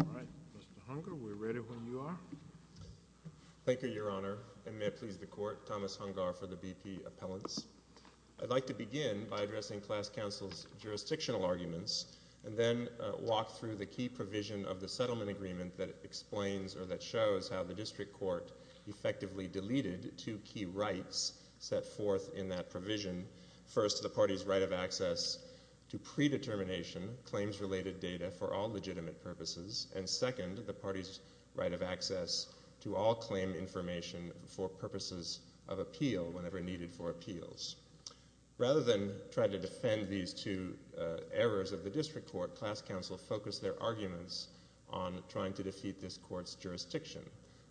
All right, Mr. Hungar, we're ready when you are. Thank you, Your Honor, and may it please the Court, Thomas Hungar for the BP Appellants. I'd like to begin by addressing class counsel's jurisdictional arguments and then walk through the key provision of the settlement agreement that explains, or that shows, how the district court effectively deleted two key rights set forth in that provision. First, the party's right of access to predetermination, claims-related data, for all legitimate purposes. And second, the party's right of access to all claim information for purposes of appeal, whenever needed for appeals. Rather than try to defend these two errors of the district court, class counsel focused their arguments on trying to defeat this court's jurisdiction.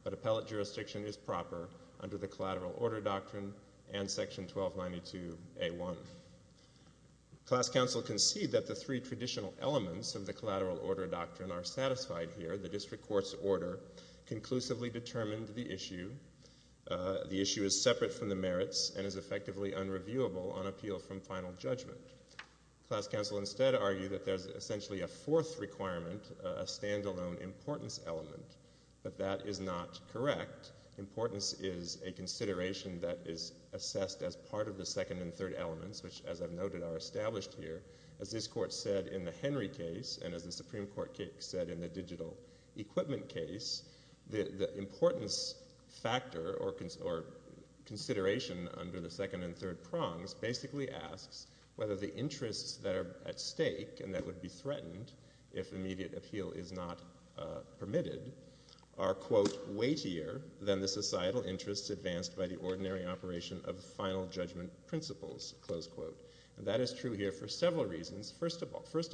But appellate jurisdiction is proper under the Collateral Order Doctrine and Section 1292A1. Class counsel concede that the three traditional elements of the Collateral Order Doctrine are satisfied here. The district court's order conclusively determined the issue. The issue is separate from the merits and is effectively unreviewable on appeal from final judgment. Class counsel instead argue that there's essentially a fourth requirement, a stand-alone importance element, but that is not correct. Importance is a consideration that is assessed as part of the second and third elements, which, as I've noted, are established here. As this court said in the Henry case, and as the Supreme Court said in the digital equipment case, the importance factor or consideration under the second and third prongs basically asks whether the interests that are at stake and that would be threatened if immediate appeal is not permitted are, quote, weightier than the societal interests advanced by the ordinary operation of final judgment principles, close quote. And that is true here for several reasons. First of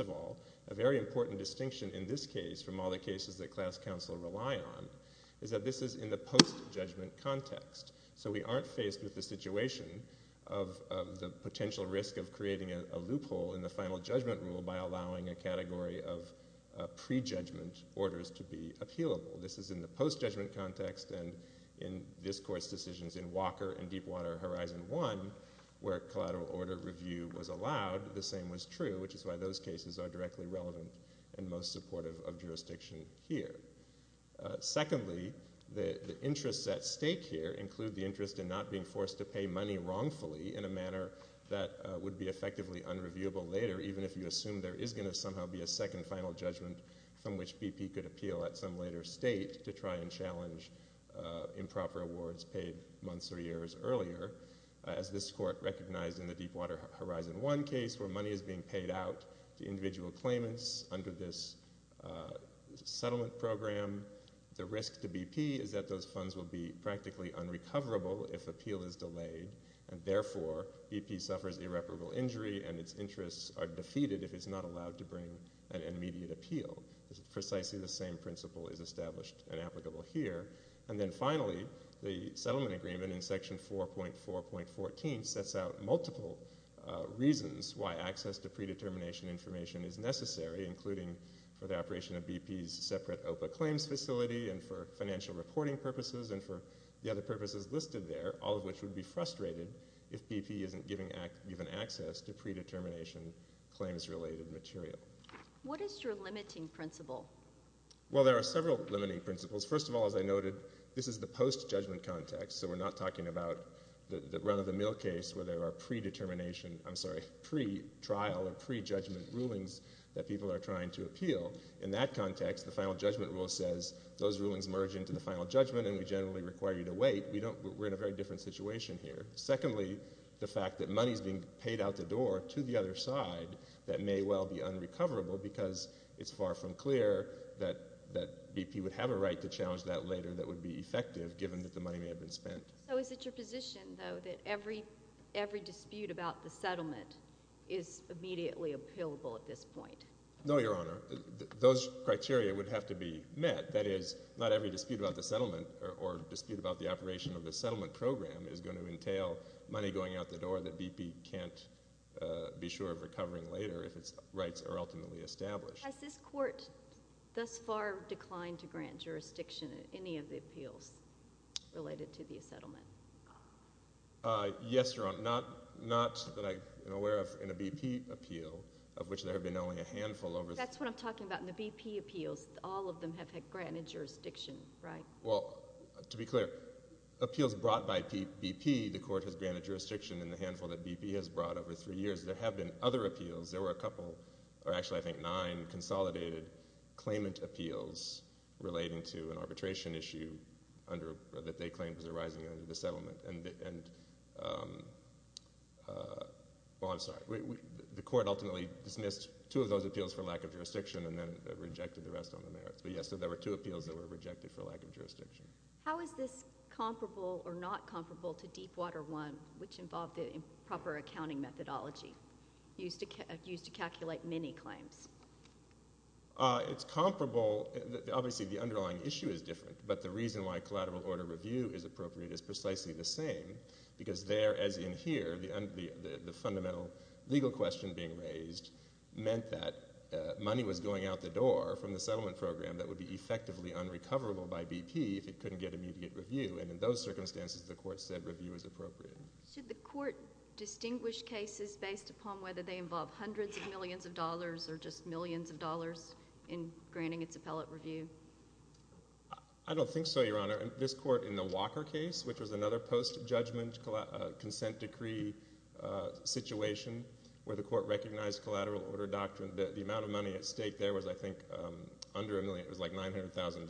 all, a very important distinction in this case from all the cases that class counsel rely on is that this is in the post-judgment context. So we aren't faced with the situation of the potential risk of creating a loophole in the final judgment rule by allowing a category of pre-judgment orders to be appealable. This is in the post-judgment context and in this court's decisions in Walker and Deepwater Horizon 1 where collateral order review was allowed, the same was true, which is why those cases are directly relevant and most supportive of jurisdiction here. Secondly, the interests at stake here include the interest in not being forced to pay money wrongfully in a manner that would be effectively unreviewable later, even if you assume there is going to somehow be a second final judgment from which BP could appeal at some later state to try and challenge improper awards paid months or years earlier, as this court recognized in the Deepwater Horizon 1 case where money is being paid out to individual claimants under this settlement program. The risk to BP is that those funds will be practically unrecoverable if appeal is delayed and therefore BP suffers irreparable injury and its interests are defeated if it's not allowed to bring an immediate appeal. Precisely the same principle is established and applicable here. And then finally, the settlement agreement in Section 4.4.14 sets out multiple reasons why access to predetermination information is necessary, including for the operation of BP's separate OPA claims facility and for financial reporting purposes and for the other purposes listed there, all of which would be frustrated if BP isn't given access to predetermination claims-related material. What is your limiting principle? Well, there are several limiting principles. First of all, as I noted, this is the post-judgment context, so we're not talking about the run-of-the-mill case where there are predetermination, I'm sorry, pretrial or prejudgment rulings that people are trying to appeal. In that context, the final judgment rule says those rulings merge into the final judgment and we generally require you to wait. We're in a very different situation here. Secondly, the fact that money is being paid out the door to the other side that may well be unrecoverable because it's far from clear that BP would have a right to challenge that later that would be effective given that the money may have been spent. So is it your position, though, that every dispute about the settlement is immediately appealable at this point? No, Your Honor. Those criteria would have to be met. That is, not every dispute about the settlement or dispute about the operation of the settlement program is going to entail money going out the door that BP can't be sure of recovering later if its rights are ultimately established. Has this court thus far declined to grant jurisdiction in any of the appeals related to the settlement? Yes, Your Honor. Not that I am aware of in a BP appeal, of which there have been only a handful. That's what I'm talking about. In the BP appeals, all of them have had granted jurisdiction, right? Well, to be clear, appeals brought by BP, the court has granted jurisdiction in the handful that BP has brought over three years. There have been other appeals. There were a couple, or actually I think nine, consolidated claimant appeals relating to an arbitration issue that they claimed was arising under the settlement. I'm sorry. The court ultimately dismissed two of those appeals for lack of jurisdiction and then rejected the rest on the merits. But yes, there were two appeals that were rejected for lack of jurisdiction. How is this comparable or not comparable to Deepwater I, which involved the improper accounting methodology used to calculate many claims? It's comparable. Obviously, the underlying issue is different, but the reason why collateral order review is appropriate is precisely the same because there, as in here, the fundamental legal question being raised meant that money was going out the door from the settlement program that would be effectively unrecoverable by BP if it couldn't get immediate review. And in those circumstances, the court said review was appropriate. Should the court distinguish cases based upon whether they involve hundreds of millions of dollars or just millions of dollars in granting its appellate review? I don't think so, Your Honor. This court in the Walker case, which was another post-judgment consent decree situation where the court recognized collateral order doctrine, the amount of money at stake there was, I think, under a million. It was like $900,000.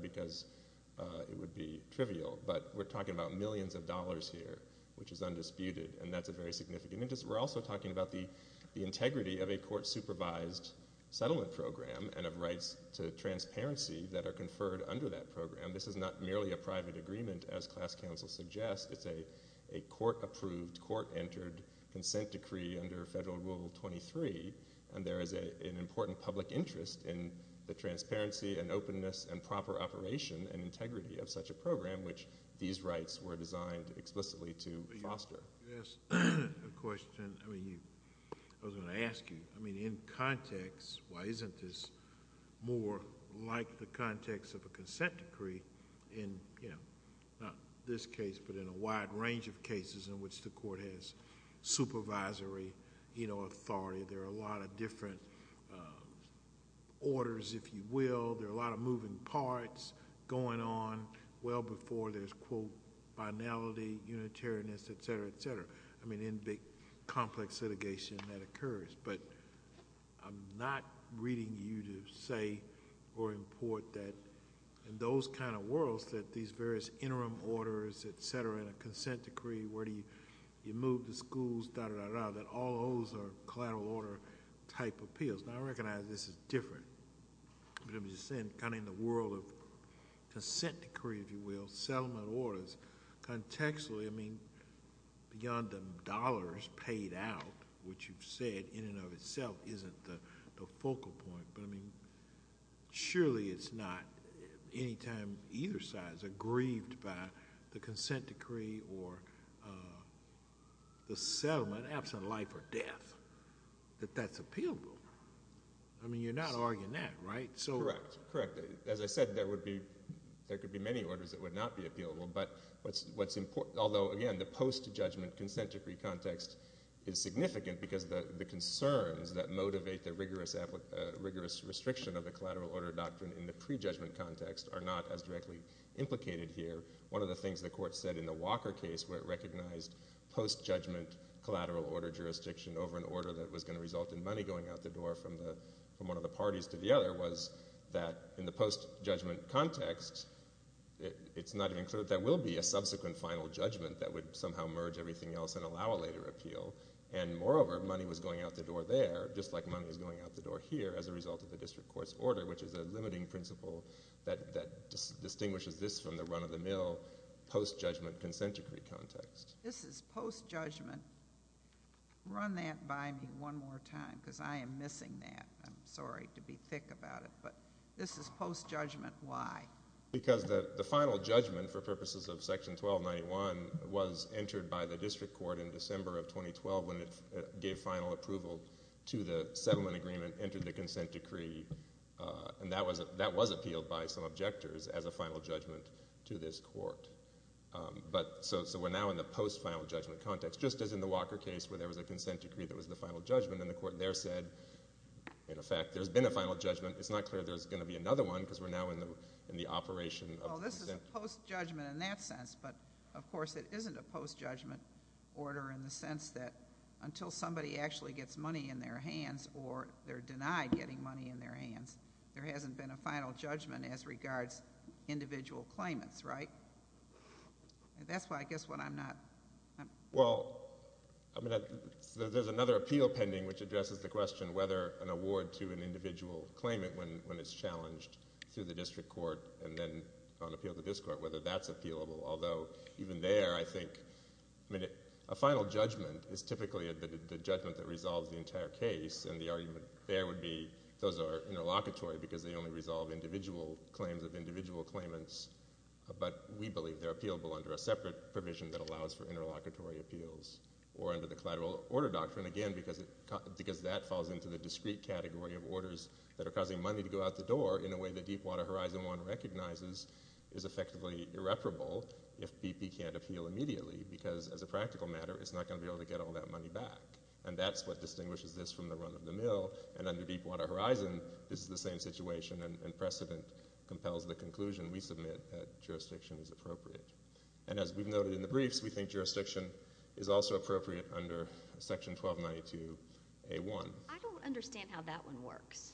because it would be trivial. But we're talking about millions of dollars here, which is undisputed, and that's a very significant interest. We're also talking about the integrity of a court-supervised settlement program and of rights to transparency that are conferred under that program. This is not merely a private agreement, as class counsel suggests. It's a court-approved, court-entered consent decree under Federal Rule 23, and there is an important public interest in the transparency and openness and proper operation and integrity of such a program, which these rights were designed explicitly to foster. Can I ask a question? I was going to ask you. In context, why isn't this more like the context of a consent decree in not this case but in a wide range of cases in which the court has supervisory authority? There are a lot of different orders, if you will. There are a lot of moving parts going on well before there's, quote, binality, unitariness, et cetera, et cetera. I mean, in the complex litigation that occurs. But I'm not reading you to say or import that in those kind of worlds that these various interim orders, et cetera, and a consent decree, where you move the schools, da, da, da, da, that all those are collateral order-type appeals. Now, I recognize this is different. But I'm just saying, kind of in the world of consent decree, if you will, settlement orders, contextually, I mean, beyond the dollars paid out, which you've said in and of itself isn't the focal point. But, I mean, surely it's not any time either side is aggrieved by the consent decree or the settlement, absent life or death, that that's appealable. I mean, you're not arguing that, right? Correct. Correct. As I said, there could be many orders that would not be appealable. But what's important, although, again, the post-judgment consent decree context is significant because the concerns that motivate the rigorous restriction of the collateral order doctrine in the pre-judgment context are not as directly implicated here. One of the things the court said in the Walker case, where it recognized post-judgment collateral order jurisdiction over an order that was going to result in money going out the door from one of the parties to the other, was that in the post-judgment context, it's not even clear that there will be a subsequent final judgment that would somehow merge everything else and allow a later appeal. And, moreover, money was going out the door there, just like money was going out the door here, as a result of the district court's order, which is a limiting principle that distinguishes this from the run-of-the-mill post-judgment consent decree context. This is post-judgment. Run that by me one more time, because I am missing that. I'm sorry to be thick about it, but this is post-judgment. Why? Because the final judgment, for purposes of Section 1291, was entered by the district court in December of 2012 when it gave final approval to the settlement agreement, entered the consent decree, and that was appealed by some objectors as a final judgment to this court. So we're now in the post-final judgment context, just as in the Walker case where there was a consent decree that was the final judgment, and the court there said, in effect, there's been a final judgment. It's not clear there's going to be another one, because we're now in the operation of the consent decree. Well, this is post-judgment in that sense, but, of course, it isn't a post-judgment order in the sense that or they're denied getting money in their hands, there hasn't been a final judgment as regards individual claimants, right? That's why I guess what I'm not... Well, there's another appeal pending which addresses the question whether an award to an individual claimant when it's challenged through the district court and then on appeal to this court, whether that's appealable. Although, even there, I think a final judgment is typically the judgment that resolves the entire case, and the argument there would be those are interlocutory because they only resolve individual claims of individual claimants, but we believe they're appealable under a separate provision that allows for interlocutory appeals or under the collateral order doctrine, again, because that falls into the discrete category of orders that are causing money to go out the door in a way that Deepwater Horizon 1 recognizes is effectively irreparable if BP can't appeal immediately, because, as a practical matter, it's not going to be able to get all that money back, and that's what distinguishes this from the run of the mill, and under Deepwater Horizon, this is the same situation, and precedent compels the conclusion we submit that jurisdiction is appropriate. And as we've noted in the briefs, we think jurisdiction is also appropriate under Section 1292A1. I don't understand how that one works.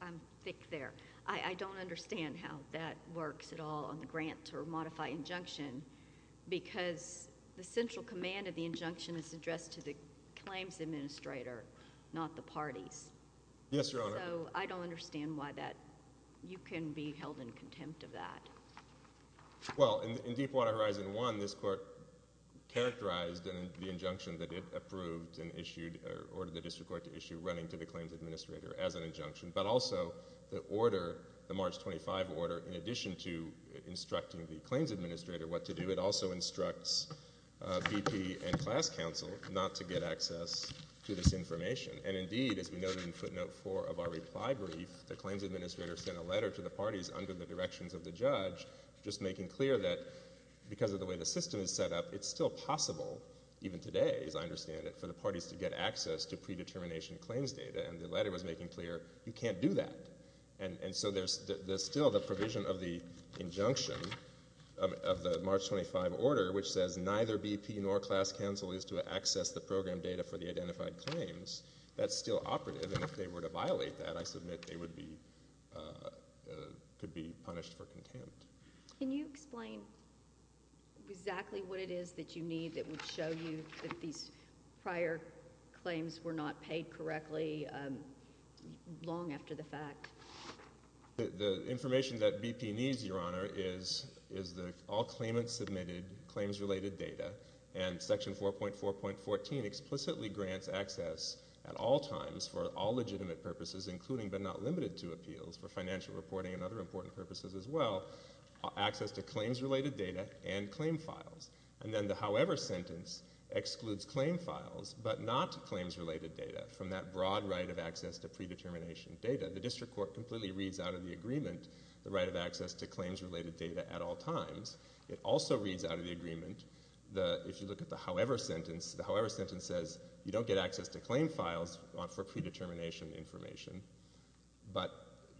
I'm thick there. I don't understand how that works at all on the grant or modify injunction because the central command of the injunction is addressed to the claims administrator, not the parties. Yes, Your Honor. So I don't understand why that... You can be held in contempt of that. Well, in Deepwater Horizon 1, this court characterized the injunction that it approved and issued, or ordered the district court to issue, running to the claims administrator as an injunction, but also the order, the March 25 order, in addition to instructing the claims administrator what to do, it also instructs VP and class counsel not to get access to this information. And indeed, as we noted in footnote 4 of our reply brief, the claims administrator sent a letter to the parties under the directions of the judge, just making clear that because of the way the system is set up, it's still possible, even today, as I understand it, for the parties to get access to predetermination claims data, and the letter was making clear you can't do that. And so there's still the provision of the injunction of the March 25 order, which says neither VP nor class counsel is to access the program data for the identified claims. That's still operative, and if they were to violate that, I submit they would be... could be punished for contempt. Can you explain exactly what it is that you need that would show you that these prior claims were not paid correctly long after the fact? The information that VP needs, Your Honor, is the all claimant-submitted claims-related data, and Section 4.4.14 explicitly grants access at all times for all legitimate purposes, including but not limited to appeals, for financial reporting and other important purposes as well, access to claims-related data and claim files. And then the however sentence excludes claim files but not claims-related data from that broad right of access to predetermination data. The district court completely reads out of the agreement the right of access to claims-related data at all times. It also reads out of the agreement, if you look at the however sentence, the however sentence says you don't get access to claim files for predetermination information, but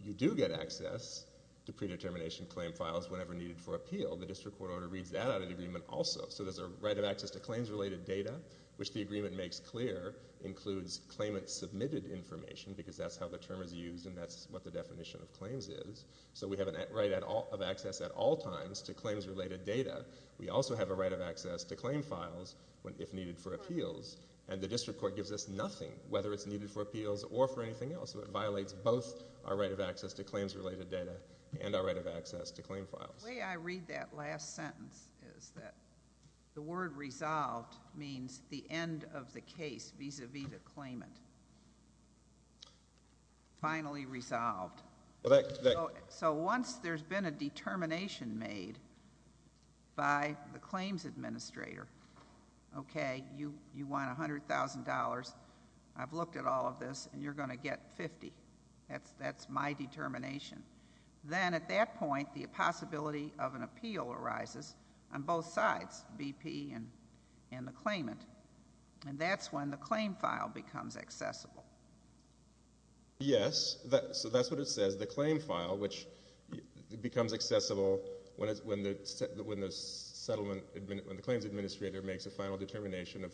you do get access to predetermination claim files whenever needed for appeal. The district court order reads that out of the agreement also. So there's a right of access to claims-related data, which the agreement makes clear includes claimant-submitted information, because that's how the term is used and that's what the definition of claims is. So we have a right of access at all times to claims-related data. We also have a right of access to claim files if needed for appeals. And the district court gives us nothing, whether it's needed for appeals or for anything else. So it violates both our right of access to claims-related data and our right of access to claim files. The way I read that last sentence is that the word resolved means the end of the case vis-à-vis the claimant. Finally resolved. So once there's been a determination made by the claims administrator, OK, you want $100,000, I've looked at all of this, and you're going to get $50,000. That's my determination. Then at that point, the possibility of an appeal arises on both sides, BP and the claimant. And that's when the claim file becomes accessible. Yes, so that's what it says. The claim file, which becomes accessible when the claims administrator makes a final determination of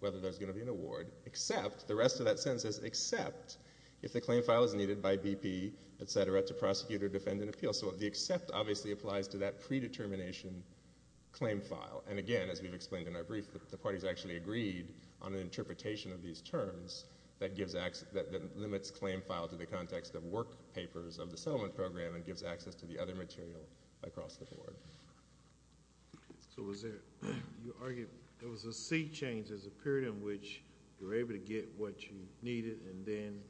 whether there's going to be an award, except the rest of that sentence says except if the claim file is needed by BP, etc., to prosecute or defend an appeal. So the except obviously applies to that predetermination claim file. And again, as we've explained in our brief, the parties actually agreed on an interpretation of these terms that limits claim file to the context of work papers of the settlement program and gives access to the other material across the board. So you argue there was a sea change. There's a period in which you're able to get what you needed and then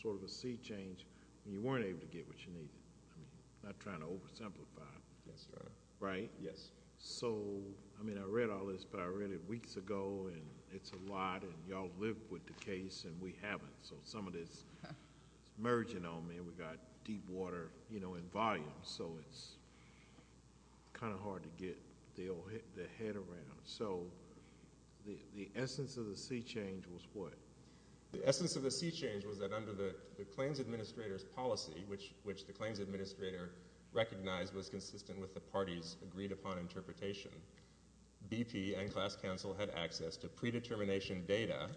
sort of a sea change when you weren't able to get what you needed. I'm not trying to oversimplify. Yes, Your Honor. Right? Yes. So, I mean, I read all this, but I read it weeks ago, and it's a lot, and you all live with the case, and we haven't. So some of this is merging on me. We've got deep water, you know, and volume. So it's kind of hard to get the head around. So the essence of the sea change was what? The essence of the sea change was that under the claims administrator's policy, which the claims administrator recognized was consistent with the party's agreed upon interpretation, BP and class counsel had access to predetermination data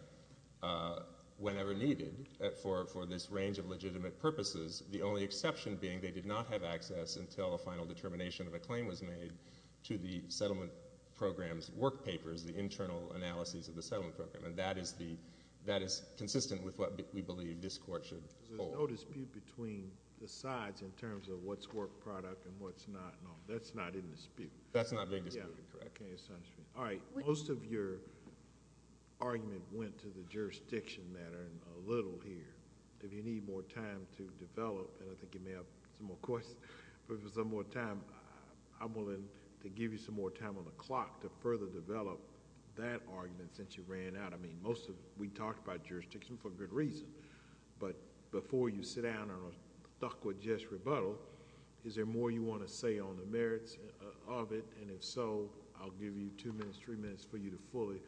whenever needed for this range of legitimate purposes, the only exception being they did not have access until a final determination of a claim was made to the settlement program's work papers, the internal analyses of the settlement program, and that is consistent with what we believe this court should hold. There's no dispute between the sides in terms of what's work product and what's not. No, that's not in dispute. That's not being disputed, correct. Okay. It's not in dispute. All right. Most of your argument went to the jurisdiction matter a little here. If you need more time to develop, and I think you may have some more questions, but if there's some more time, I'm willing to give you some more time on the clock to further develop that argument since you ran out. I mean, most of... we talked about jurisdiction for good reason, but before you sit down and are stuck with just rebuttal, is there more you want to say on the merits of it? And if so, I'll give you two minutes, three minutes for you to fully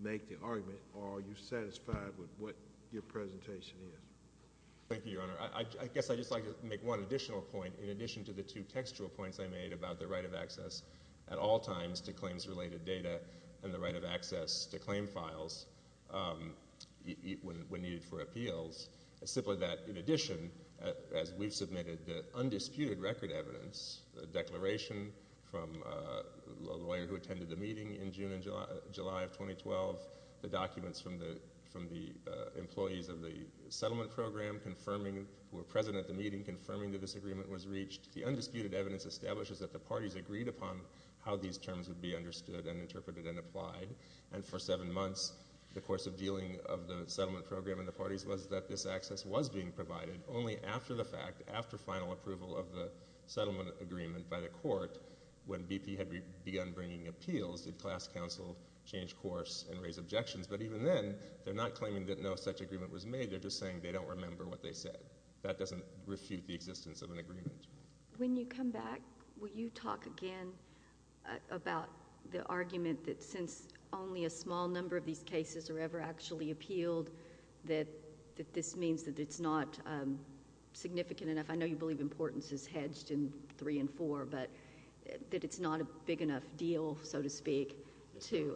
make the argument, or are you satisfied with what your presentation is? Thank you, Your Honor. I guess I'd just like to make one additional point. In addition to the two textual points I made about the right of access at all times to claims-related data and the right of access to claim files when needed for appeals, simply that in addition, as we've submitted the undisputed record evidence, the declaration from a lawyer who attended the meeting in June and July of 2012, the documents from the employees of the settlement program confirming, who were present at the meeting confirming that this agreement was reached, the undisputed evidence establishes that the parties agreed upon how these terms would be understood and interpreted and applied, and for seven months, the course of dealing of the settlement program in the parties was that this access was being provided, only after the fact, after final approval of the settlement agreement by the court, when BP had begun bringing appeals, did class counsel change course and raise objections. But even then, they're not claiming that no such agreement was made, they're just saying they don't remember what they said. That doesn't refute the existence of an agreement. When you come back, will you talk again about the argument that, since only a small number of these cases are ever actually appealed, that this means that it's not significant enough? I know you believe importance is hedged in 3 and 4, but that it's not a big enough deal, so to speak, to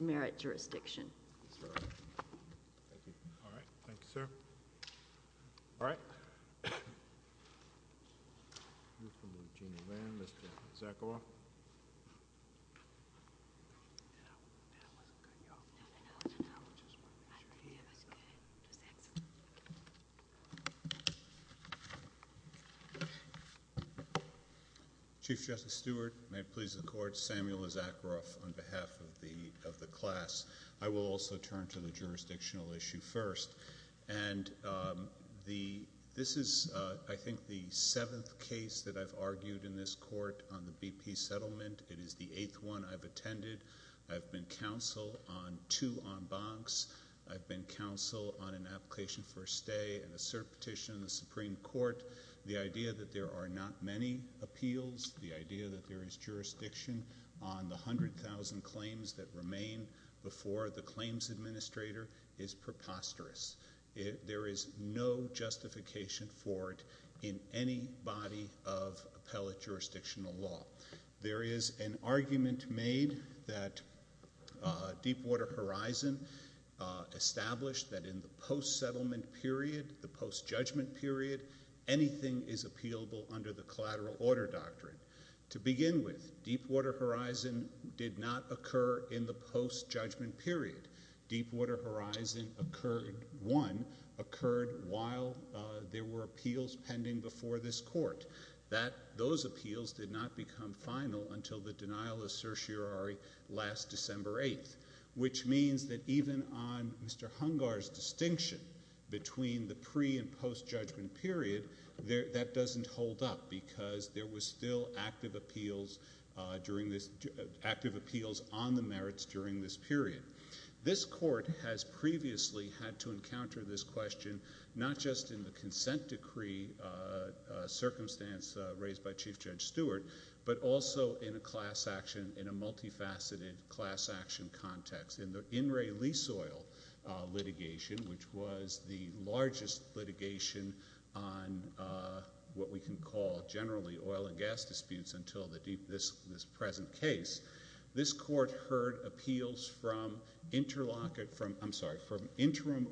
merit jurisdiction. Thank you. All right. Thank you, sir. All right. Mr. Zakaroff. Chief Justice Stewart, may it please the Court, Samuel Zakaroff on behalf of the class. I will also turn to the jurisdictional issue first. And this is, I think, the seventh case that I've argued in this court on the BP settlement. It is the eighth one I've attended. I've been counsel on two en bancs. I've been counsel on an application for a stay and a cert petition in the Supreme Court. The idea that there are not many appeals, the idea that there is jurisdiction on the 100,000 claims that remain before the claims administrator is preposterous. There is no justification for it in any body of appellate jurisdictional law. There is an argument made that Deepwater Horizon established that in the post-settlement period, the post-judgment period, anything is appealable under the collateral order doctrine. To begin with, Deepwater Horizon did not occur in the post-judgment period. Deepwater Horizon, one, occurred while there were appeals pending before this court. Those appeals did not become final until the denial of certiorari last December 8th, which means that even on Mr. Hungar's distinction between the pre- and post-judgment period, that doesn't hold up because there was still active appeals on the merits during this period. This court has previously had to encounter this question not just in the consent decree circumstance raised by Chief Judge Stewart, but also in a class action, in a multifaceted class action context. In the In Re Lease Oil litigation, which was the largest litigation on what we can call generally oil and gas disputes until this present case, this court heard appeals from interim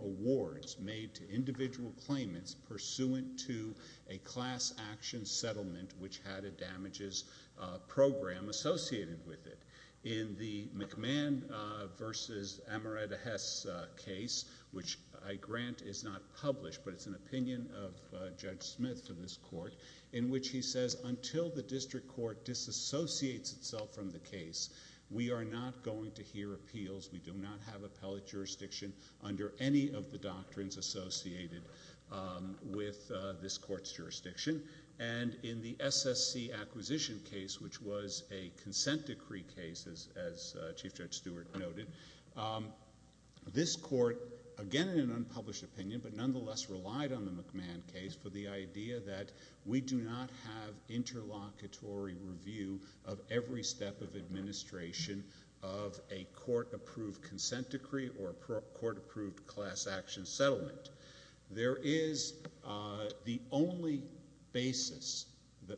awards made to individual claimants pursuant to a class action settlement which had a damages program associated with it. In the McMahon v. Amaretta Hess case, which I grant is not published, but it's an opinion of Judge Smith for this court, in which he says until the district court disassociates itself from the case, we are not going to hear appeals. We do not have appellate jurisdiction under any of the doctrines associated with this court's jurisdiction. And in the SSC acquisition case, which was a consent decree case, as Chief Judge Stewart noted, this court, again in an unpublished opinion, but nonetheless relied on the McMahon case for the idea that we do not have interlocutory review of every step of administration of a court-approved consent decree or a court-approved class action settlement. There is the only basis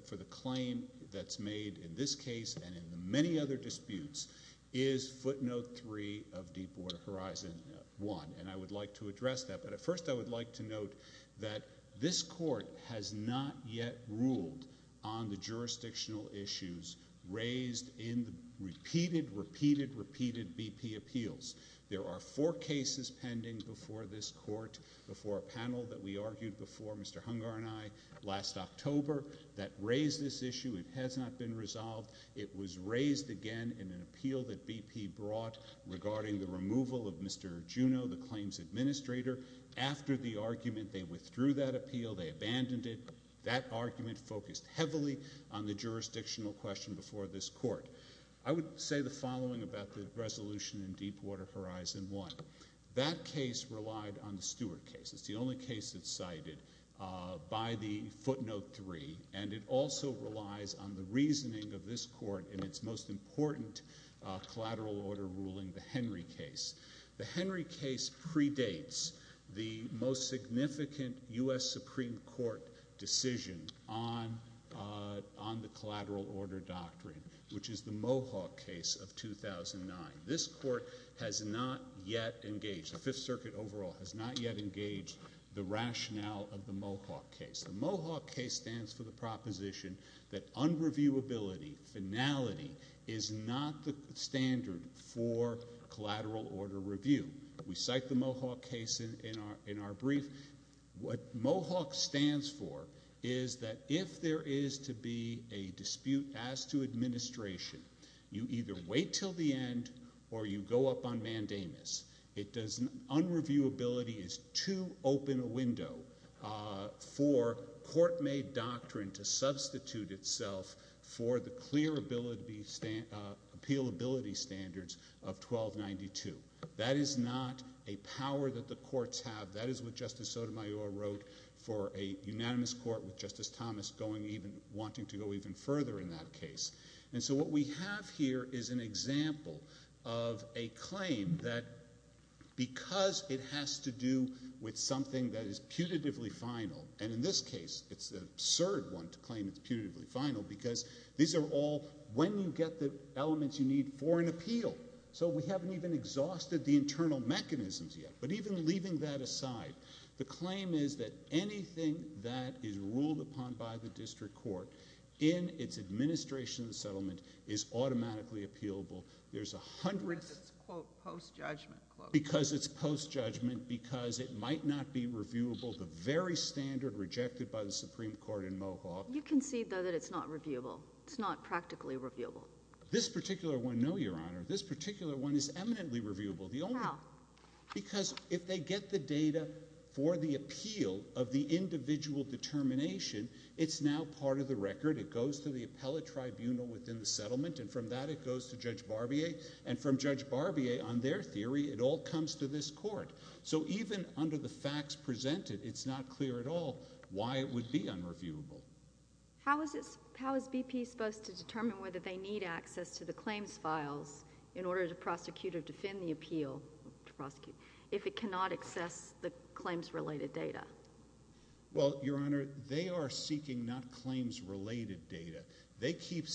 for the claim that's made in this case and in the many other disputes is footnote 3 of Deepwater Horizon 1. And I would like to address that, but first I would like to note that this court has not yet ruled on the jurisdictional issues raised in the repeated, repeated, repeated BP appeals. There are four cases pending before this court, before a panel that we argued before, Mr. Hungar and I, last October, that raised this issue. It has not been resolved. It was raised again in an appeal that BP brought regarding the removal of Mr. Juneau, the claims administrator. After the argument, they withdrew that appeal. They abandoned it. That argument focused heavily on the jurisdictional question before this court. I would say the following about the resolution in Deepwater Horizon 1. That case relied on the Stewart case. It's the only case that's cited by the footnote 3. And it also relies on the reasoning of this court in its most important collateral order ruling, the Henry case. The Henry case predates the most significant U.S. Supreme Court decision on the collateral order doctrine, which is the Mohawk case of 2009. This court has not yet engaged, the Fifth Circuit overall, has not yet engaged the rationale of the Mohawk case. The Mohawk case stands for the proposition that unreviewability, finality, is not the standard for collateral order review. We cite the Mohawk case in our brief. What Mohawk stands for is that if there is to be a dispute as to administration, you either wait until the end or you go up on mandamus. Unreviewability is too open a window for court-made doctrine to substitute itself for the clear appealability standards of 1292. That is not a power that the courts have. That is what Justice Sotomayor wrote for a unanimous court with Justice Thomas wanting to go even further in that case. And so what we have here is an example of a claim that because it has to do with something that is putatively final, and in this case it's an absurd one to claim it's putatively final because these are all when you get the elements you need for an appeal. So we haven't even exhausted the internal mechanisms yet. But even leaving that aside, the claim is that anything that is ruled upon by the district court in its administration and settlement is automatically appealable. Because it's post-judgment. Because it's post-judgment, because it might not be reviewable, the very standard rejected by the Supreme Court in Mohawk. You concede, though, that it's not reviewable. It's not practically reviewable. No, Your Honor. This particular one is eminently reviewable. How? Because if they get the data for the appeal of the individual determination, it's now part of the record. It goes to the appellate tribunal within the settlement, and from that it goes to Judge Barbier. And from Judge Barbier, on their theory, it all comes to this court. So even under the facts presented, it's not clear at all why it would be unreviewable. How is BP supposed to determine whether they need access to the claims files in order to prosecute or defend the appeal if it cannot access the claims-related data? Well, Your Honor, they are seeking not claims-related data. They keep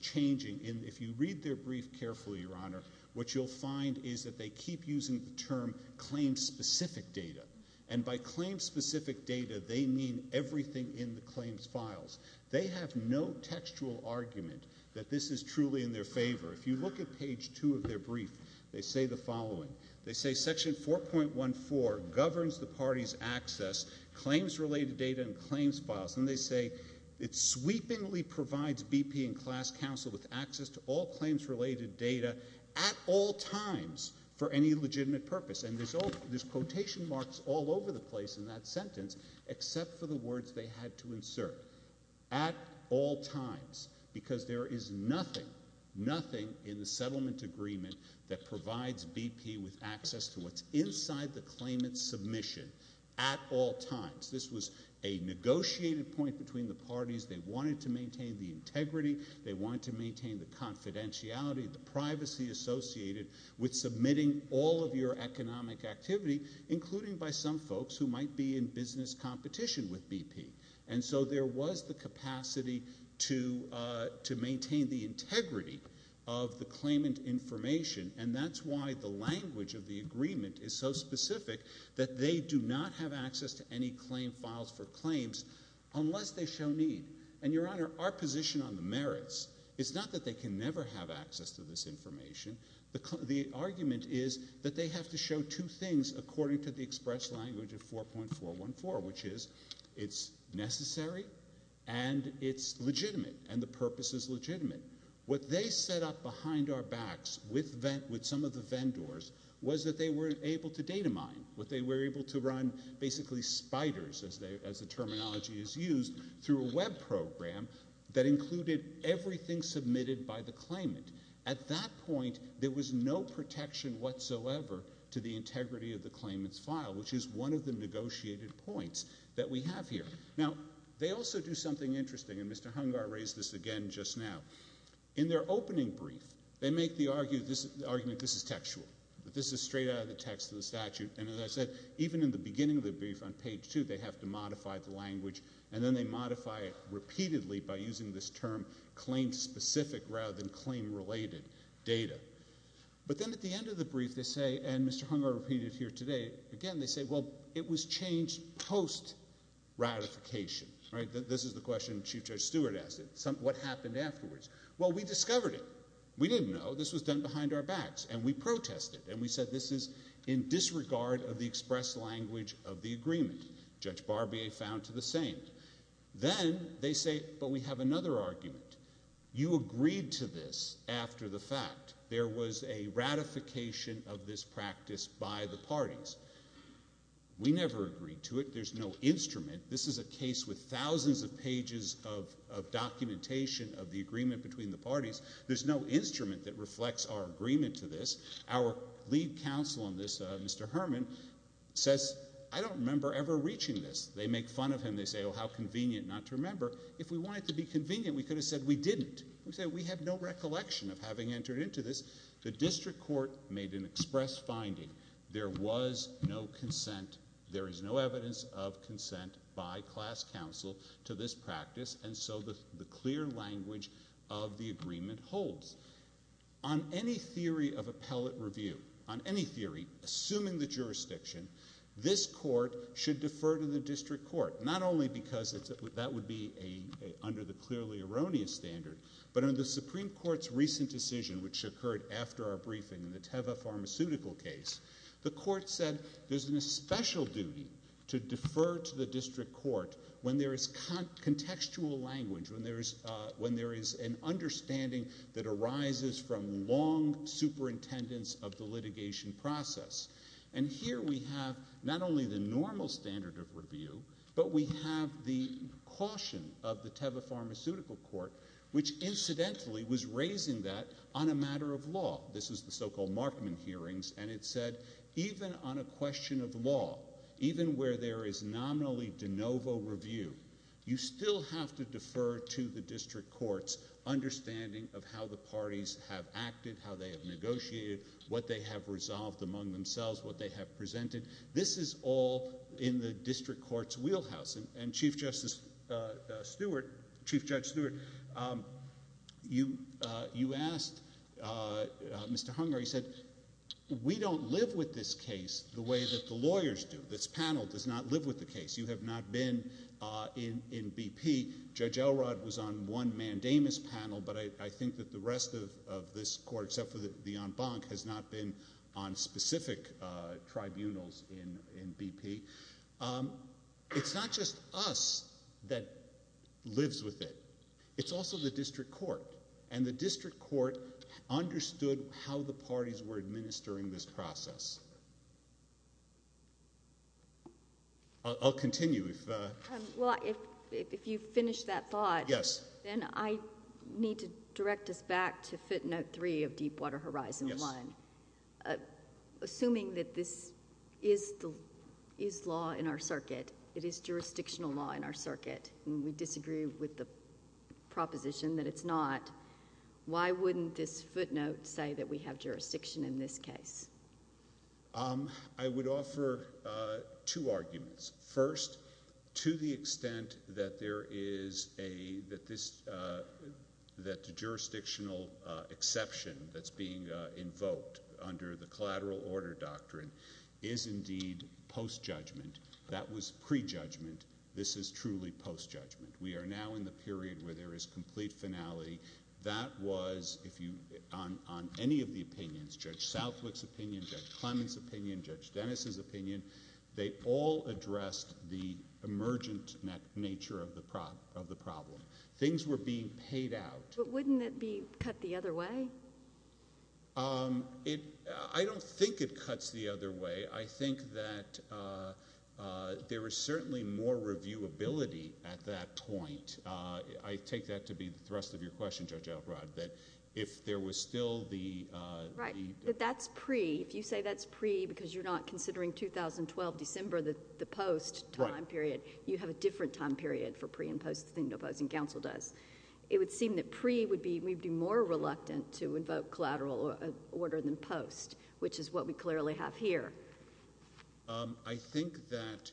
changing. If you read their brief carefully, Your Honor, what you'll find is that they keep using the term claim-specific data. And by claim-specific data, they mean everything in the claims files. They have no textual argument that this is truly in their favor. If you look at page 2 of their brief, they say the following. They say Section 4.14 governs the parties' access, claims-related data, and claims files. And they say it sweepingly provides BP and class counsel with access to all claims-related data at all times for any legitimate purpose. And there's quotation marks all over the place in that sentence except for the words they had to insert, at all times, because there is nothing, nothing in the settlement agreement that provides BP with access to what's inside the claimant's submission at all times. This was a negotiated point between the parties. They wanted to maintain the integrity. They wanted to maintain the confidentiality, the privacy associated with submitting all of your economic activity, including by some folks who might be in business competition with BP. And so there was the capacity to maintain the integrity of the claimant information, and that's why the language of the agreement is so specific that they do not have access to any claim files for claims unless they show need. And, Your Honor, our position on the merits is not that they can never have access to this information. The argument is that they have to show two things according to the express language of 4.414, which is it's necessary and it's legitimate and the purpose is legitimate. What they set up behind our backs with some of the vendors was that they were able to data mine, that they were able to run basically spiders, as the terminology is used, through a web program that included everything submitted by the claimant. At that point, there was no protection whatsoever to the integrity of the claimant's file, which is one of the negotiated points that we have here. Now, they also do something interesting, and Mr. Hungar raised this again just now. In their opening brief, they make the argument this is textual, that this is straight out of the text of the statute, and as I said, even in the beginning of the brief on page two, they have to modify the language, and then they modify it repeatedly by using this term, claim-specific rather than claim-related data. But then at the end of the brief, they say, and Mr. Hungar repeated it here today again, they say, well, it was changed post-ratification. This is the question Chief Judge Stewart asked, what happened afterwards? Well, we discovered it. We didn't know. This was done behind our backs, and we protested, and we said this is in disregard of the express language of the agreement. Judge Barbier found to the same. Then they say, but we have another argument. You agreed to this after the fact. There was a ratification of this practice by the parties. We never agreed to it. There's no instrument. This is a case with thousands of pages of documentation of the agreement between the parties. There's no instrument that reflects our agreement to this. Our lead counsel on this, Mr. Herman, says, I don't remember ever reaching this. They make fun of him. They say, oh, how convenient not to remember. If we wanted to be convenient, we could have said we didn't. We said we have no recollection of having entered into this. The district court made an express finding. There was no consent. There is no evidence of consent by class counsel to this practice, and so the clear language of the agreement holds. On any theory of appellate review, on any theory, assuming the jurisdiction, this court should defer to the district court, not only because that would be under the clearly erroneous standard, but on the Supreme Court's recent decision, which occurred after our briefing in the Teva Pharmaceutical case, the court said there's a special duty to defer to the district court when there is contextual language, when there is an understanding that arises from long superintendence of the litigation process. And here we have not only the normal standard of review, but we have the caution of the Teva Pharmaceutical court, which incidentally was raising that on a matter of law. This is the so-called Markman hearings, and it said even on a question of law, even where there is nominally de novo review, you still have to defer to the district court's understanding of how the parties have acted, how they have negotiated, what they have resolved among themselves, what they have presented. This is all in the district court's wheelhouse. And Chief Justice Stewart, Chief Judge Stewart, you asked Mr. Hunger, you said we don't live with this case the way that the lawyers do. This panel does not live with the case. You have not been in BP. Judge Elrod was on one mandamus panel, but I think that the rest of this court, except for the en banc, has not been on specific tribunals in BP. It's not just us that lives with it. It's also the district court, and the district court understood how the parties were administering this process. I'll continue. Well, if you've finished that thought, then I need to direct us back to Fit Note 3 of Deepwater Horizon 1, assuming that this is law in our circuit, it is jurisdictional law in our circuit, and we disagree with the proposition that it's not, why wouldn't this footnote say that we have jurisdiction in this case? I would offer two arguments. First, to the extent that there is a jurisdictional exception that's being invoked under the collateral order doctrine is indeed post-judgment. That was pre-judgment. This is truly post-judgment. We are now in the period where there is complete finality. That was, on any of the opinions, Judge Southwick's opinion, Judge Clement's opinion, Judge Dennis's opinion, they all addressed the emergent nature of the problem. Things were being paid out. But wouldn't it be cut the other way? I don't think it cuts the other way. I think that there is certainly more reviewability at that point. I take that to be the thrust of your question, Judge Elrod, that if there was still the— But that's pre. If you say that's pre because you're not considering 2012 December, the post time period, you have a different time period for pre and post than the opposing counsel does. It would seem that pre would be more reluctant to invoke collateral order than post, which is what we clearly have here. I think that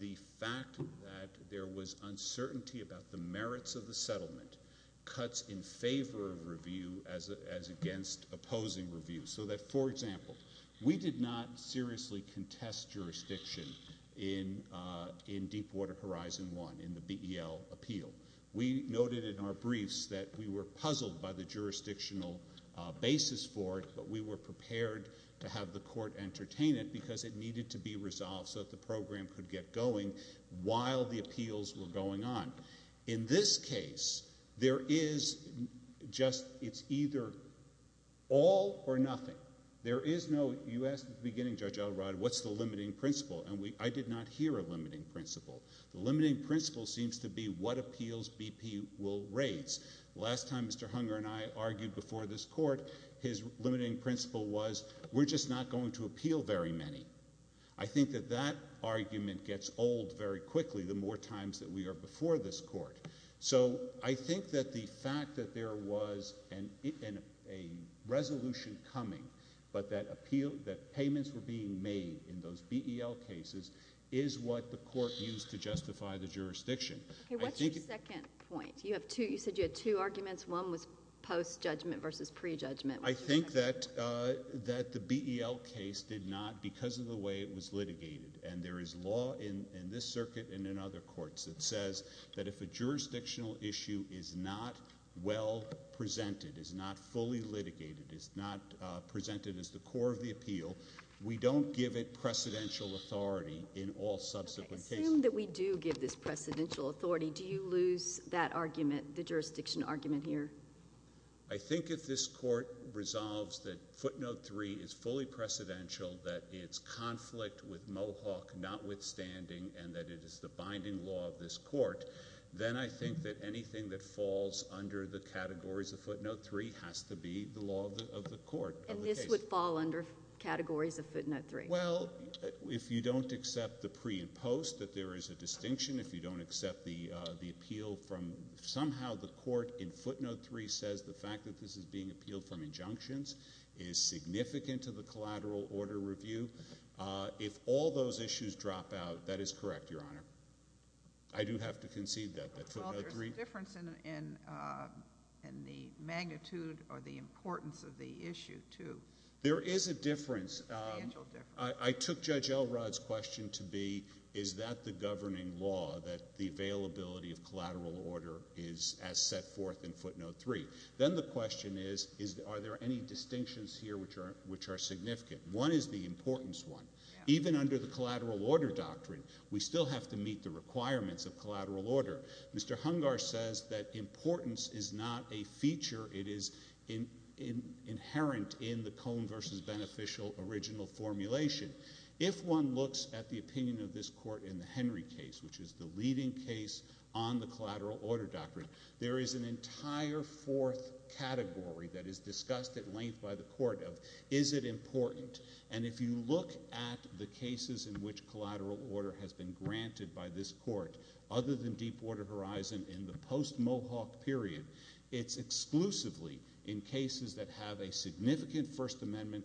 the fact that there was uncertainty about the merits of the settlement cuts in favor of review as against opposing review. So that, for example, we did not seriously contest jurisdiction in Deepwater Horizon 1, in the BEL appeal. We noted in our briefs that we were puzzled by the jurisdictional basis for it, but we were prepared to have the court entertain it because it needed to be resolved so that the program could get going while the appeals were going on. In this case, there is just—it's either all or nothing. There is no—you asked at the beginning, Judge Elrod, what's the limiting principle, and I did not hear a limiting principle. The limiting principle seems to be what appeals BP will raise. Last time Mr. Hunger and I argued before this court, his limiting principle was we're just not going to appeal very many. I think that that argument gets old very quickly the more times that we are before this court. So I think that the fact that there was a resolution coming, but that payments were being made in those BEL cases, is what the court used to justify the jurisdiction. Okay, what's your second point? You said you had two arguments. One was post-judgment versus pre-judgment. I think that the BEL case did not, because of the way it was litigated, and there is law in this circuit and in other courts that says that if a jurisdictional issue is not well presented, is not fully litigated, is not presented as the core of the appeal, we don't give it precedential authority in all subsequent cases. Assume that we do give this precedential authority. Do you lose that argument, the jurisdiction argument here? I think if this court resolves that footnote 3 is fully precedential, that it's conflict with Mohawk notwithstanding, and that it is the binding law of this court, then I think that anything that falls under the categories of footnote 3 has to be the law of the court. And this would fall under categories of footnote 3? Well, if you don't accept the pre and post, that there is a distinction. If you don't accept the appeal from somehow the court in footnote 3 says the fact that this is being appealed from injunctions is significant to the collateral order review. If all those issues drop out, that is correct, Your Honor. I do have to concede that footnote 3. Well, there's a difference in the magnitude or the importance of the issue, too. There is a difference. A substantial difference. I took Judge Elrod's question to be, is that the governing law, that the availability of collateral order is as set forth in footnote 3? Then the question is, are there any distinctions here which are significant? One is the importance one. Even under the collateral order doctrine, we still have to meet the requirements of collateral order. Mr. Hungar says that importance is not a feature. It is inherent in the Cone v. Beneficial original formulation. If one looks at the opinion of this court in the Henry case, which is the leading case on the collateral order doctrine, there is an entire fourth category that is discussed at length by the court of, is it important? And if you look at the cases in which collateral order has been granted by this court, other than Deepwater Horizon in the post-Mohawk period, it's exclusively in cases that have a significant First Amendment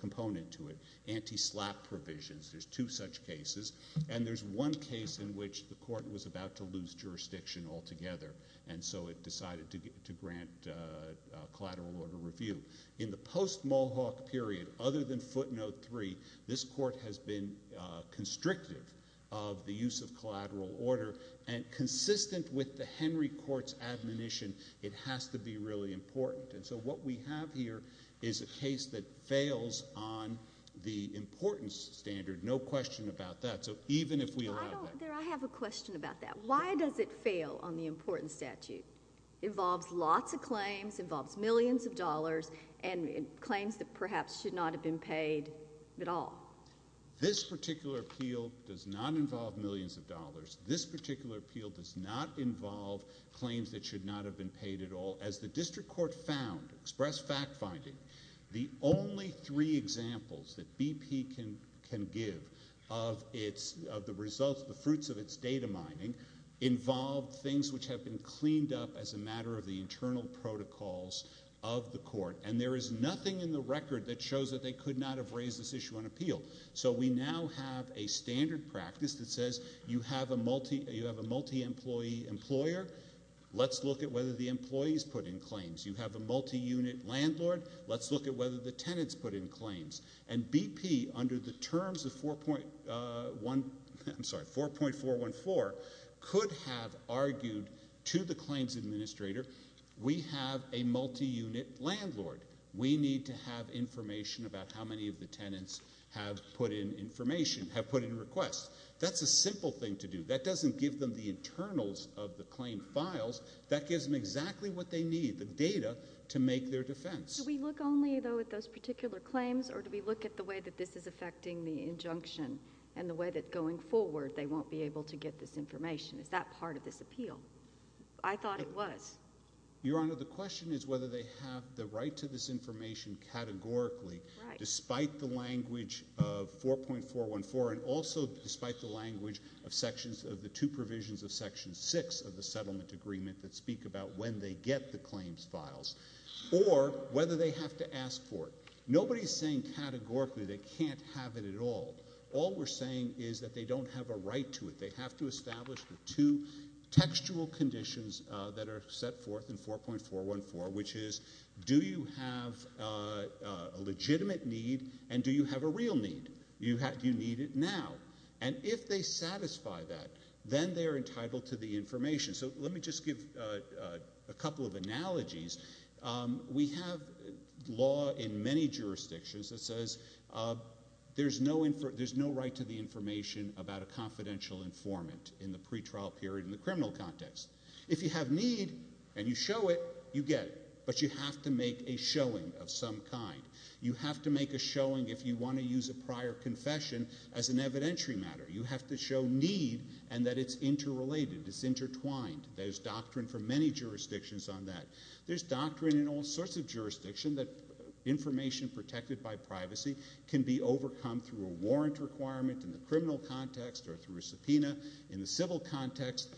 component to it, anti-SLAPP provisions. There's two such cases. And there's one case in which the court was about to lose jurisdiction altogether, and so it decided to grant collateral order review. In the post-Mohawk period, other than footnote 3, this court has been constrictive of the use of collateral order and consistent with the Henry court's admonition it has to be really important. And so what we have here is a case that fails on the importance standard, no question about that. So even if we allow that. I have a question about that. Why does it fail on the importance statute? It involves lots of claims, involves millions of dollars, and claims that perhaps should not have been paid at all. This particular appeal does not involve millions of dollars. This particular appeal does not involve claims that should not have been paid at all. As the district court found, expressed fact-finding, the only three examples that BP can give of the results, the fruits of its data mining, involve things which have been cleaned up as a matter of the internal protocols of the court. And there is nothing in the record that shows that they could not have raised this issue on appeal. So we now have a standard practice that says you have a multi-employee employer. Let's look at whether the employees put in claims. You have a multi-unit landlord. Let's look at whether the tenants put in claims. And BP, under the terms of 4.414, could have argued to the claims administrator, we have a multi-unit landlord. We need to have information about how many of the tenants have put in requests. That's a simple thing to do. That doesn't give them the internals of the claim files. That gives them exactly what they need, the data, to make their defense. Do we look only, though, at those particular claims, or do we look at the way that this is affecting the injunction and the way that going forward they won't be able to get this information? Is that part of this appeal? I thought it was. Your Honor, the question is whether they have the right to this information categorically, despite the language of 4.414 and also despite the language of the two provisions of Section 6 of the settlement agreement that speak about when they get the claims files, or whether they have to ask for it. Nobody is saying categorically they can't have it at all. All we're saying is that they don't have a right to it. They have to establish the two textual conditions that are set forth in 4.414, which is do you have a legitimate need and do you have a real need? Do you need it now? If they satisfy that, then they are entitled to the information. Let me just give a couple of analogies. We have law in many jurisdictions that says there's no right to the information about a confidential informant in the pretrial period in the criminal context. If you have need and you show it, you get it, but you have to make a showing of some kind. You have to make a showing if you want to use a prior confession as an evidentiary matter. You have to show need and that it's interrelated, it's intertwined. There's doctrine for many jurisdictions on that. There's doctrine in all sorts of jurisdictions that information protected by privacy can be overcome through a warrant requirement in the criminal context or through a subpoena in the civil context.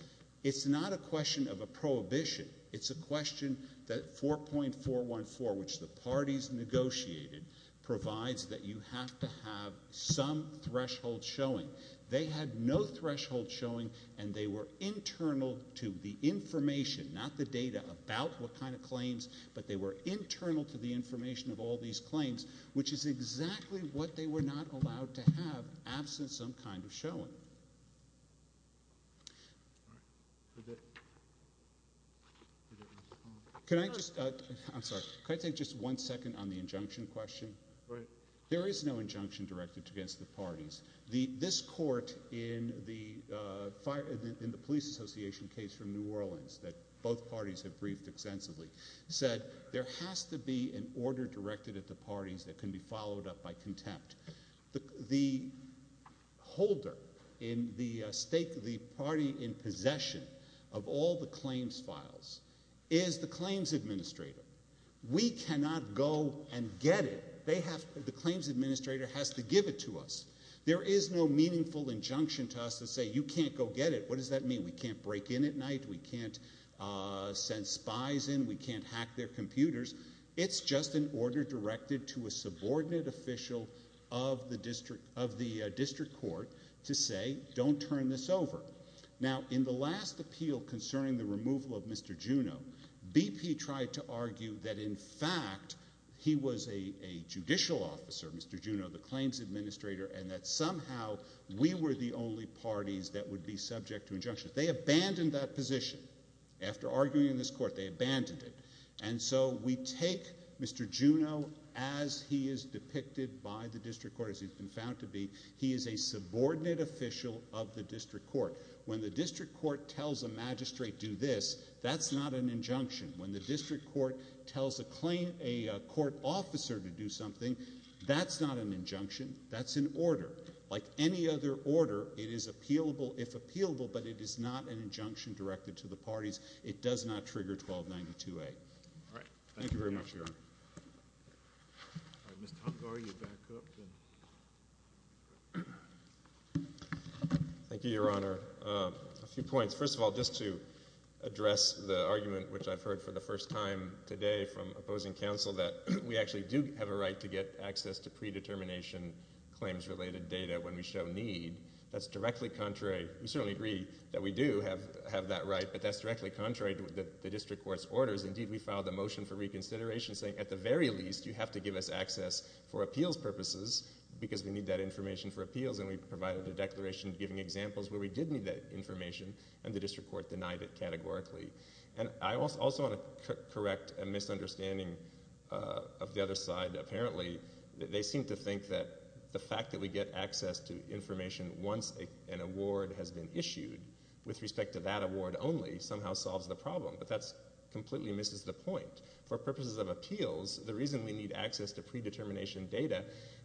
It's not a question of a prohibition. It's a question that 4.414, which the parties negotiated, provides that you have to have some threshold showing. They had no threshold showing, and they were internal to the information, not the data about what kind of claims, but they were internal to the information of all these claims, which is exactly what they were not allowed to have, absent some kind of showing. Can I take just one second on the injunction question? There is no injunction directed against the parties. This court in the Police Association case from New Orleans that both parties have briefed extensively said there has to be an order directed at the parties that can be followed up by contempt. The holder in the stake of the party in possession of all the claims files is the claims administrator. We cannot go and get it. The claims administrator has to give it to us. There is no meaningful injunction to us that says you can't go get it. What does that mean? We can't break in at night. We can't send spies in. We can't hack their computers. It's just an order directed to a subordinate official of the district court to say don't turn this over. Now, in the last appeal concerning the removal of Mr. Juneau, BP tried to argue that in fact he was a judicial officer, Mr. Juneau, the claims administrator, and that somehow we were the only parties that would be subject to injunction. They abandoned that position. After arguing in this court, they abandoned it. And so we take Mr. Juneau as he is depicted by the district court, as he's been found to be. He is a subordinate official of the district court. When the district court tells a magistrate do this, that's not an injunction. When the district court tells a court officer to do something, that's not an injunction. That's an order. Like any other order, it is appealable if appealable, but it is not an injunction directed to the parties. It does not trigger 1292A. All right. Thank you very much, Your Honor. Ms. Topgar, you back up. Thank you, Your Honor. A few points. First of all, just to address the argument, which I've heard for the first time today from opposing counsel, that we actually do have a right to get access to predetermination claims related data when we show need. That's directly contrary. We certainly agree that we do have that right, but that's directly contrary to the district court's orders. Indeed, we filed a motion for reconsideration saying at the very least, you have to give us access for appeals purposes because we need that information for appeals, and we provided a declaration giving examples where we did need that information and the district court denied it categorically. And I also want to correct a misunderstanding of the other side. Apparently, they seem to think that the fact that we get access to information once an award has been issued with respect to that award only somehow solves the problem. But that completely misses the point. For purposes of appeals, the reason we need access to predetermination data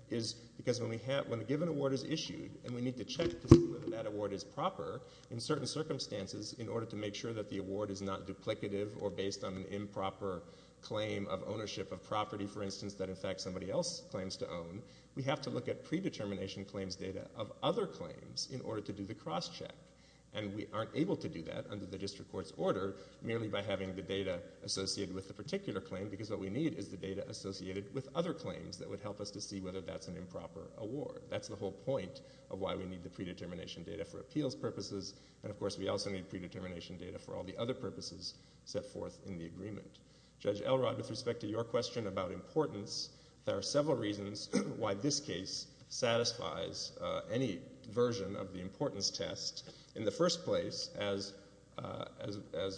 is because when a given award is issued and we need to check to see whether that award is proper in certain circumstances in order to make sure that the award is not duplicative or based on an improper claim of ownership of property, for instance, that in fact somebody else claims to own, we have to look at predetermination claims data of other claims in order to do the cross check. And we aren't able to do that under the district court's order merely by having the data associated with the particular claim, because what we need is the data associated with other claims that would help us to see whether that's an improper award. That's the whole point of why we need the predetermination data for appeals purposes. And of course we also need predetermination data for all the other purposes set forth in the agreement. Judge Elrod, with respect to your question about importance, there are several reasons why this case satisfies any version of the importance test. In the first place, as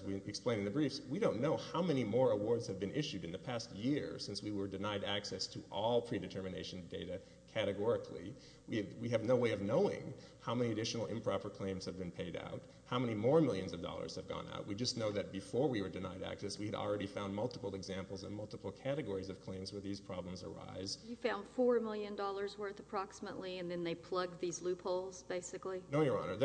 we explained in the briefs, we don't know how many more awards have been issued in the past year since we were denied access to all predetermination data categorically. We have no way of knowing how many additional improper claims have been paid out, how many more millions of dollars have gone out. We just know that before we were denied access, we had already found multiple examples and multiple categories of claims where these problems arise. You found $4 million worth approximately, and then they plugged these loopholes basically? No, Your Honor.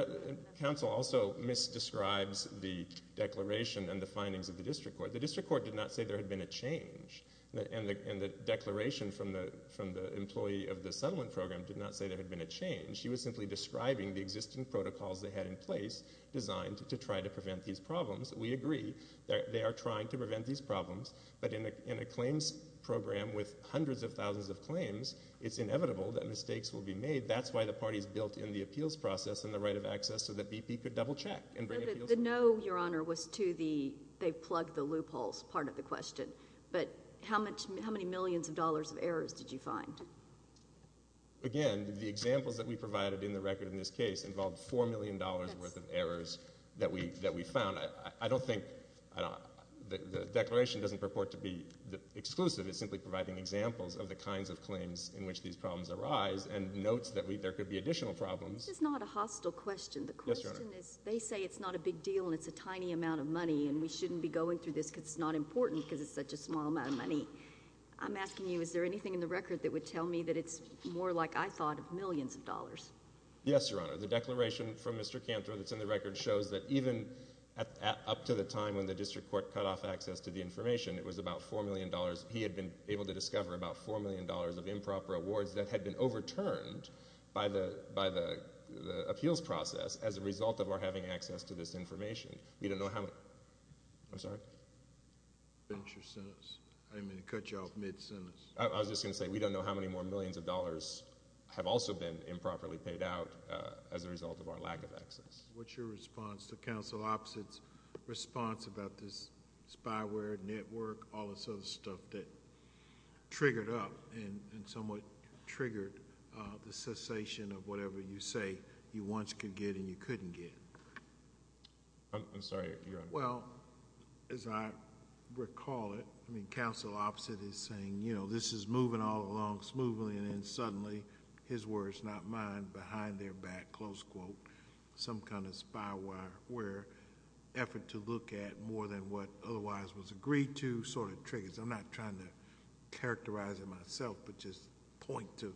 Counsel also misdescribes the declaration and the findings of the district court. The district court did not say there had been a change. And the declaration from the employee of the settlement program did not say there had been a change. She was simply describing the existing protocols they had in place designed to try to prevent these problems. We agree that they are trying to prevent these problems, but in a claims program with hundreds of thousands of claims, it's inevitable that mistakes will be made. That's why the party's built in the appeals process and the right of access so that BP could double check and bring appeals. The no, Your Honor, was to the, they plugged the loopholes part of the question. But how many millions of dollars of errors did you find? Again, the examples that we provided in the record in this case involved $4 million worth of errors that we found. I don't think the declaration doesn't purport to be exclusive. It's simply providing examples of the kinds of claims in which these problems arise and notes that there could be additional problems. This is not a hostile question. The question is they say it's not a big deal and it's a tiny amount of money and we shouldn't be going through this because it's not important because it's such a small amount of money. I'm asking you, is there anything in the record that would tell me that it's more like I thought of millions of dollars? Yes, Your Honor. The declaration from Mr. Cantor that's in the record shows that even up to the time when the district court cut off access to the information, it was about $4 million. He had been able to discover about $4 million of improper awards that had been overturned by the appeals process as a result of our having access to this information. We don't know how many, I'm sorry? Finish your sentence. I didn't mean to cut you off mid-sentence. I was just going to say we don't know how many more millions of dollars have also been improperly paid out as a result of our lack of access. What's your response to Counsel Opposite's response about this spyware network, all this other stuff that triggered up and somewhat triggered the cessation of whatever you say you once could get and you couldn't get? I'm sorry, Your Honor. Well, as I recall it, Counsel Opposite is saying this is moving all along smoothly and then suddenly his words, not mine, behind their back, close quote, some kind of spyware effort to look at more than what otherwise was agreed to sort of triggers. I'm not trying to characterize it myself but just point to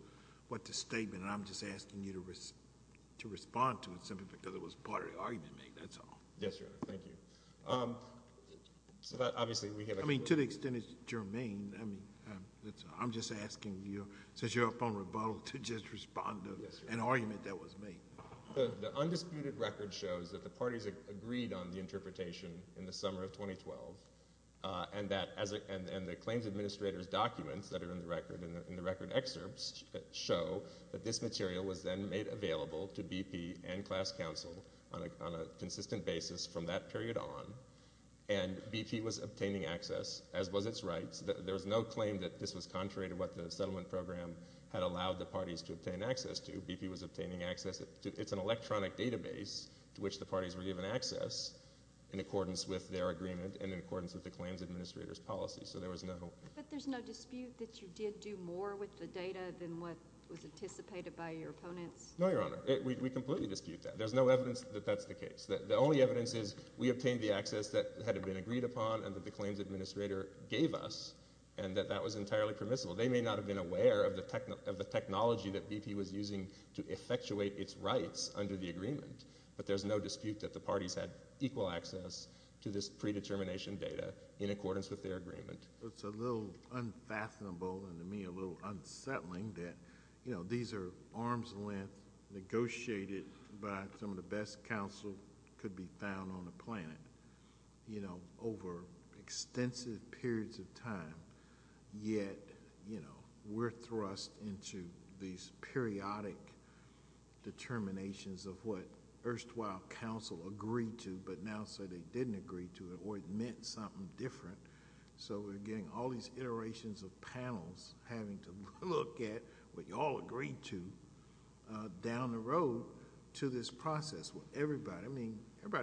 what the statement and I'm just asking you to respond to it simply because it was part of the argument made. That's all. Yes, Your Honor. Thank you. Obviously, we have a- I mean, to the extent it's germane, I mean, I'm just asking you since you're up on rebuttal to just respond to an argument that was made. The undisputed record shows that the parties agreed on the interpretation in the summer of 2012 and the claims administrator's documents that are in the record, in the record excerpts, show that this material was then made available to BP and class counsel on a consistent basis from that period on and BP was obtaining access as was its rights. There was no claim that this was contrary to what the settlement program had allowed the parties to obtain access to. BP was obtaining access. It's an electronic database to which the parties were given access in accordance with their agreement and in accordance with the claims administrator's policy so there was no- But there's no dispute that you did do more with the data than what was anticipated by your opponents? No, Your Honor. We completely dispute that. There's no evidence that that's the case. The only evidence is we obtained the access that had been agreed upon and that the claims administrator gave us and that that was entirely permissible. They may not have been aware of the technology that BP was using to effectuate its rights under the agreement but there's no dispute that the parties had equal access to this predetermination data in accordance with their agreement. It's a little unfathomable and to me a little unsettling that these are arm's length negotiated by some of the best counsel that could be found on the ground. It's been an extensive period of time yet we're thrust into these periodic determinations of what erstwhile counsel agreed to but now say they didn't agree to it or it meant something different so we're getting all these iterations of panels having to look at what you all agreed to down the road to this process. Everybody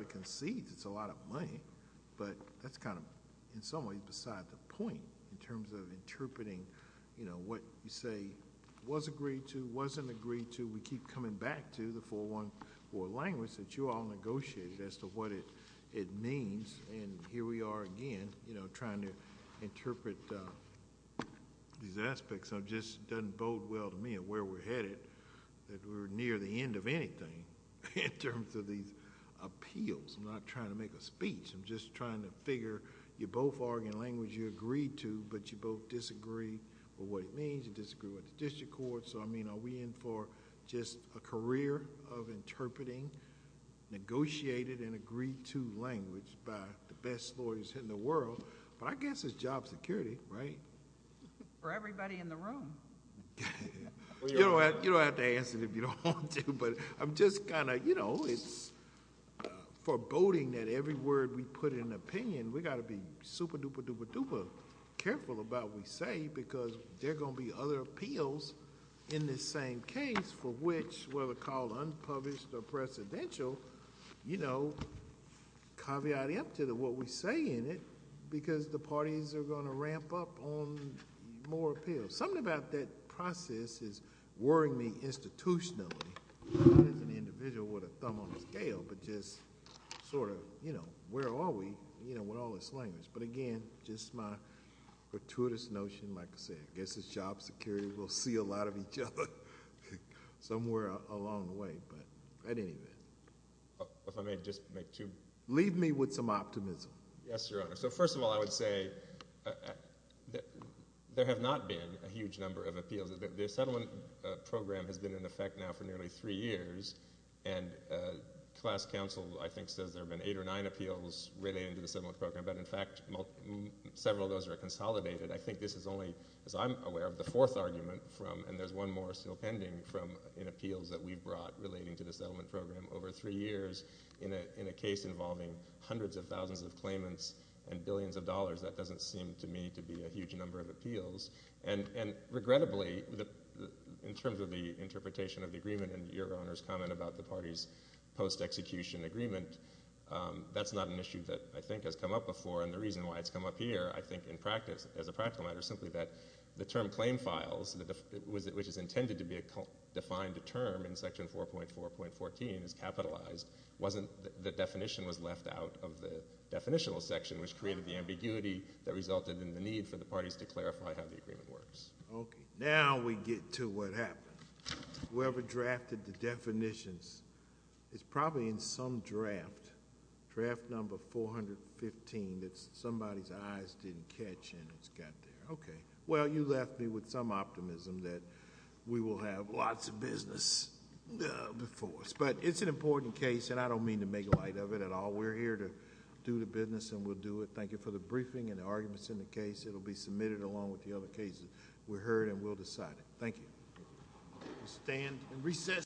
concedes it's a lot of money but that's kind of in some ways beside the point in terms of interpreting what you say was agreed to, wasn't agreed to. We keep coming back to the 4-1-4 language that you all negotiated as to what it means and here we are again trying to interpret these aspects. It just doesn't bode well to me of where we're headed that we're near the end of anything in terms of these appeals. I'm not trying to make a speech. I'm just trying to figure you're both arguing language you agreed to but you both disagree with what it means, you disagree with the district court. Are we in for just a career of interpreting negotiated and agreed to language by the best lawyers in the world? I guess it's job security, right? For everybody in the room. You don't have to answer if you don't want to. I'm just kind of, you know, it's foreboding that every word we put in opinion, we got to be super-duper-duper-duper careful about what we say because there are going to be other appeals in this same case for which whether called unpublished or precedential, you know, caveat empta to what we say in it because the parties are going to ramp up on more appeals. So something about that process is worrying me institutionally as an individual with a thumb on a scale but just sort of, you know, where are we, you know, with all this language. But again, just my gratuitous notion, like I said, I guess it's job security. We'll see a lot of each other somewhere along the way. But at any rate. If I may just make two. Leave me with some optimism. Yes, Your Honor. So first of all, I would say there have not been a huge number of appeals. The settlement program has been in effect now for nearly three years, and class counsel I think says there have been eight or nine appeals relating to the settlement program. But in fact, several of those are consolidated. I think this is only, as I'm aware of, the fourth argument from, and there's one more still pending from appeals that we've brought relating to the settlement program over three years in a case involving hundreds of thousands of claimants and billions of dollars. That doesn't seem to me to be a huge number of appeals. And regrettably, in terms of the interpretation of the agreement and Your Honor's comment about the party's post-execution agreement, that's not an issue that I think has come up before. And the reason why it's come up here I think in practice, as a practical matter simply that the term claim files, which is intended to be a defined term in Section 4.4.14 is capitalized. The definition was left out of the definitional section, which created the ambiguity that resulted in the need for the parties to clarify how the agreement works. Okay. Now we get to what happened. Whoever drafted the definitions is probably in some draft, draft number 415 that somebody's eyes didn't catch and it's got there. Okay. Well, you left me with some optimism that we will have lots of business before us. But it's an important case and I don't mean to make light of it at all. We're here to do the business and we'll do it. Thank you for the briefing and the arguments in the case. It will be submitted along with the other cases. We heard and we'll decide it. Thank you.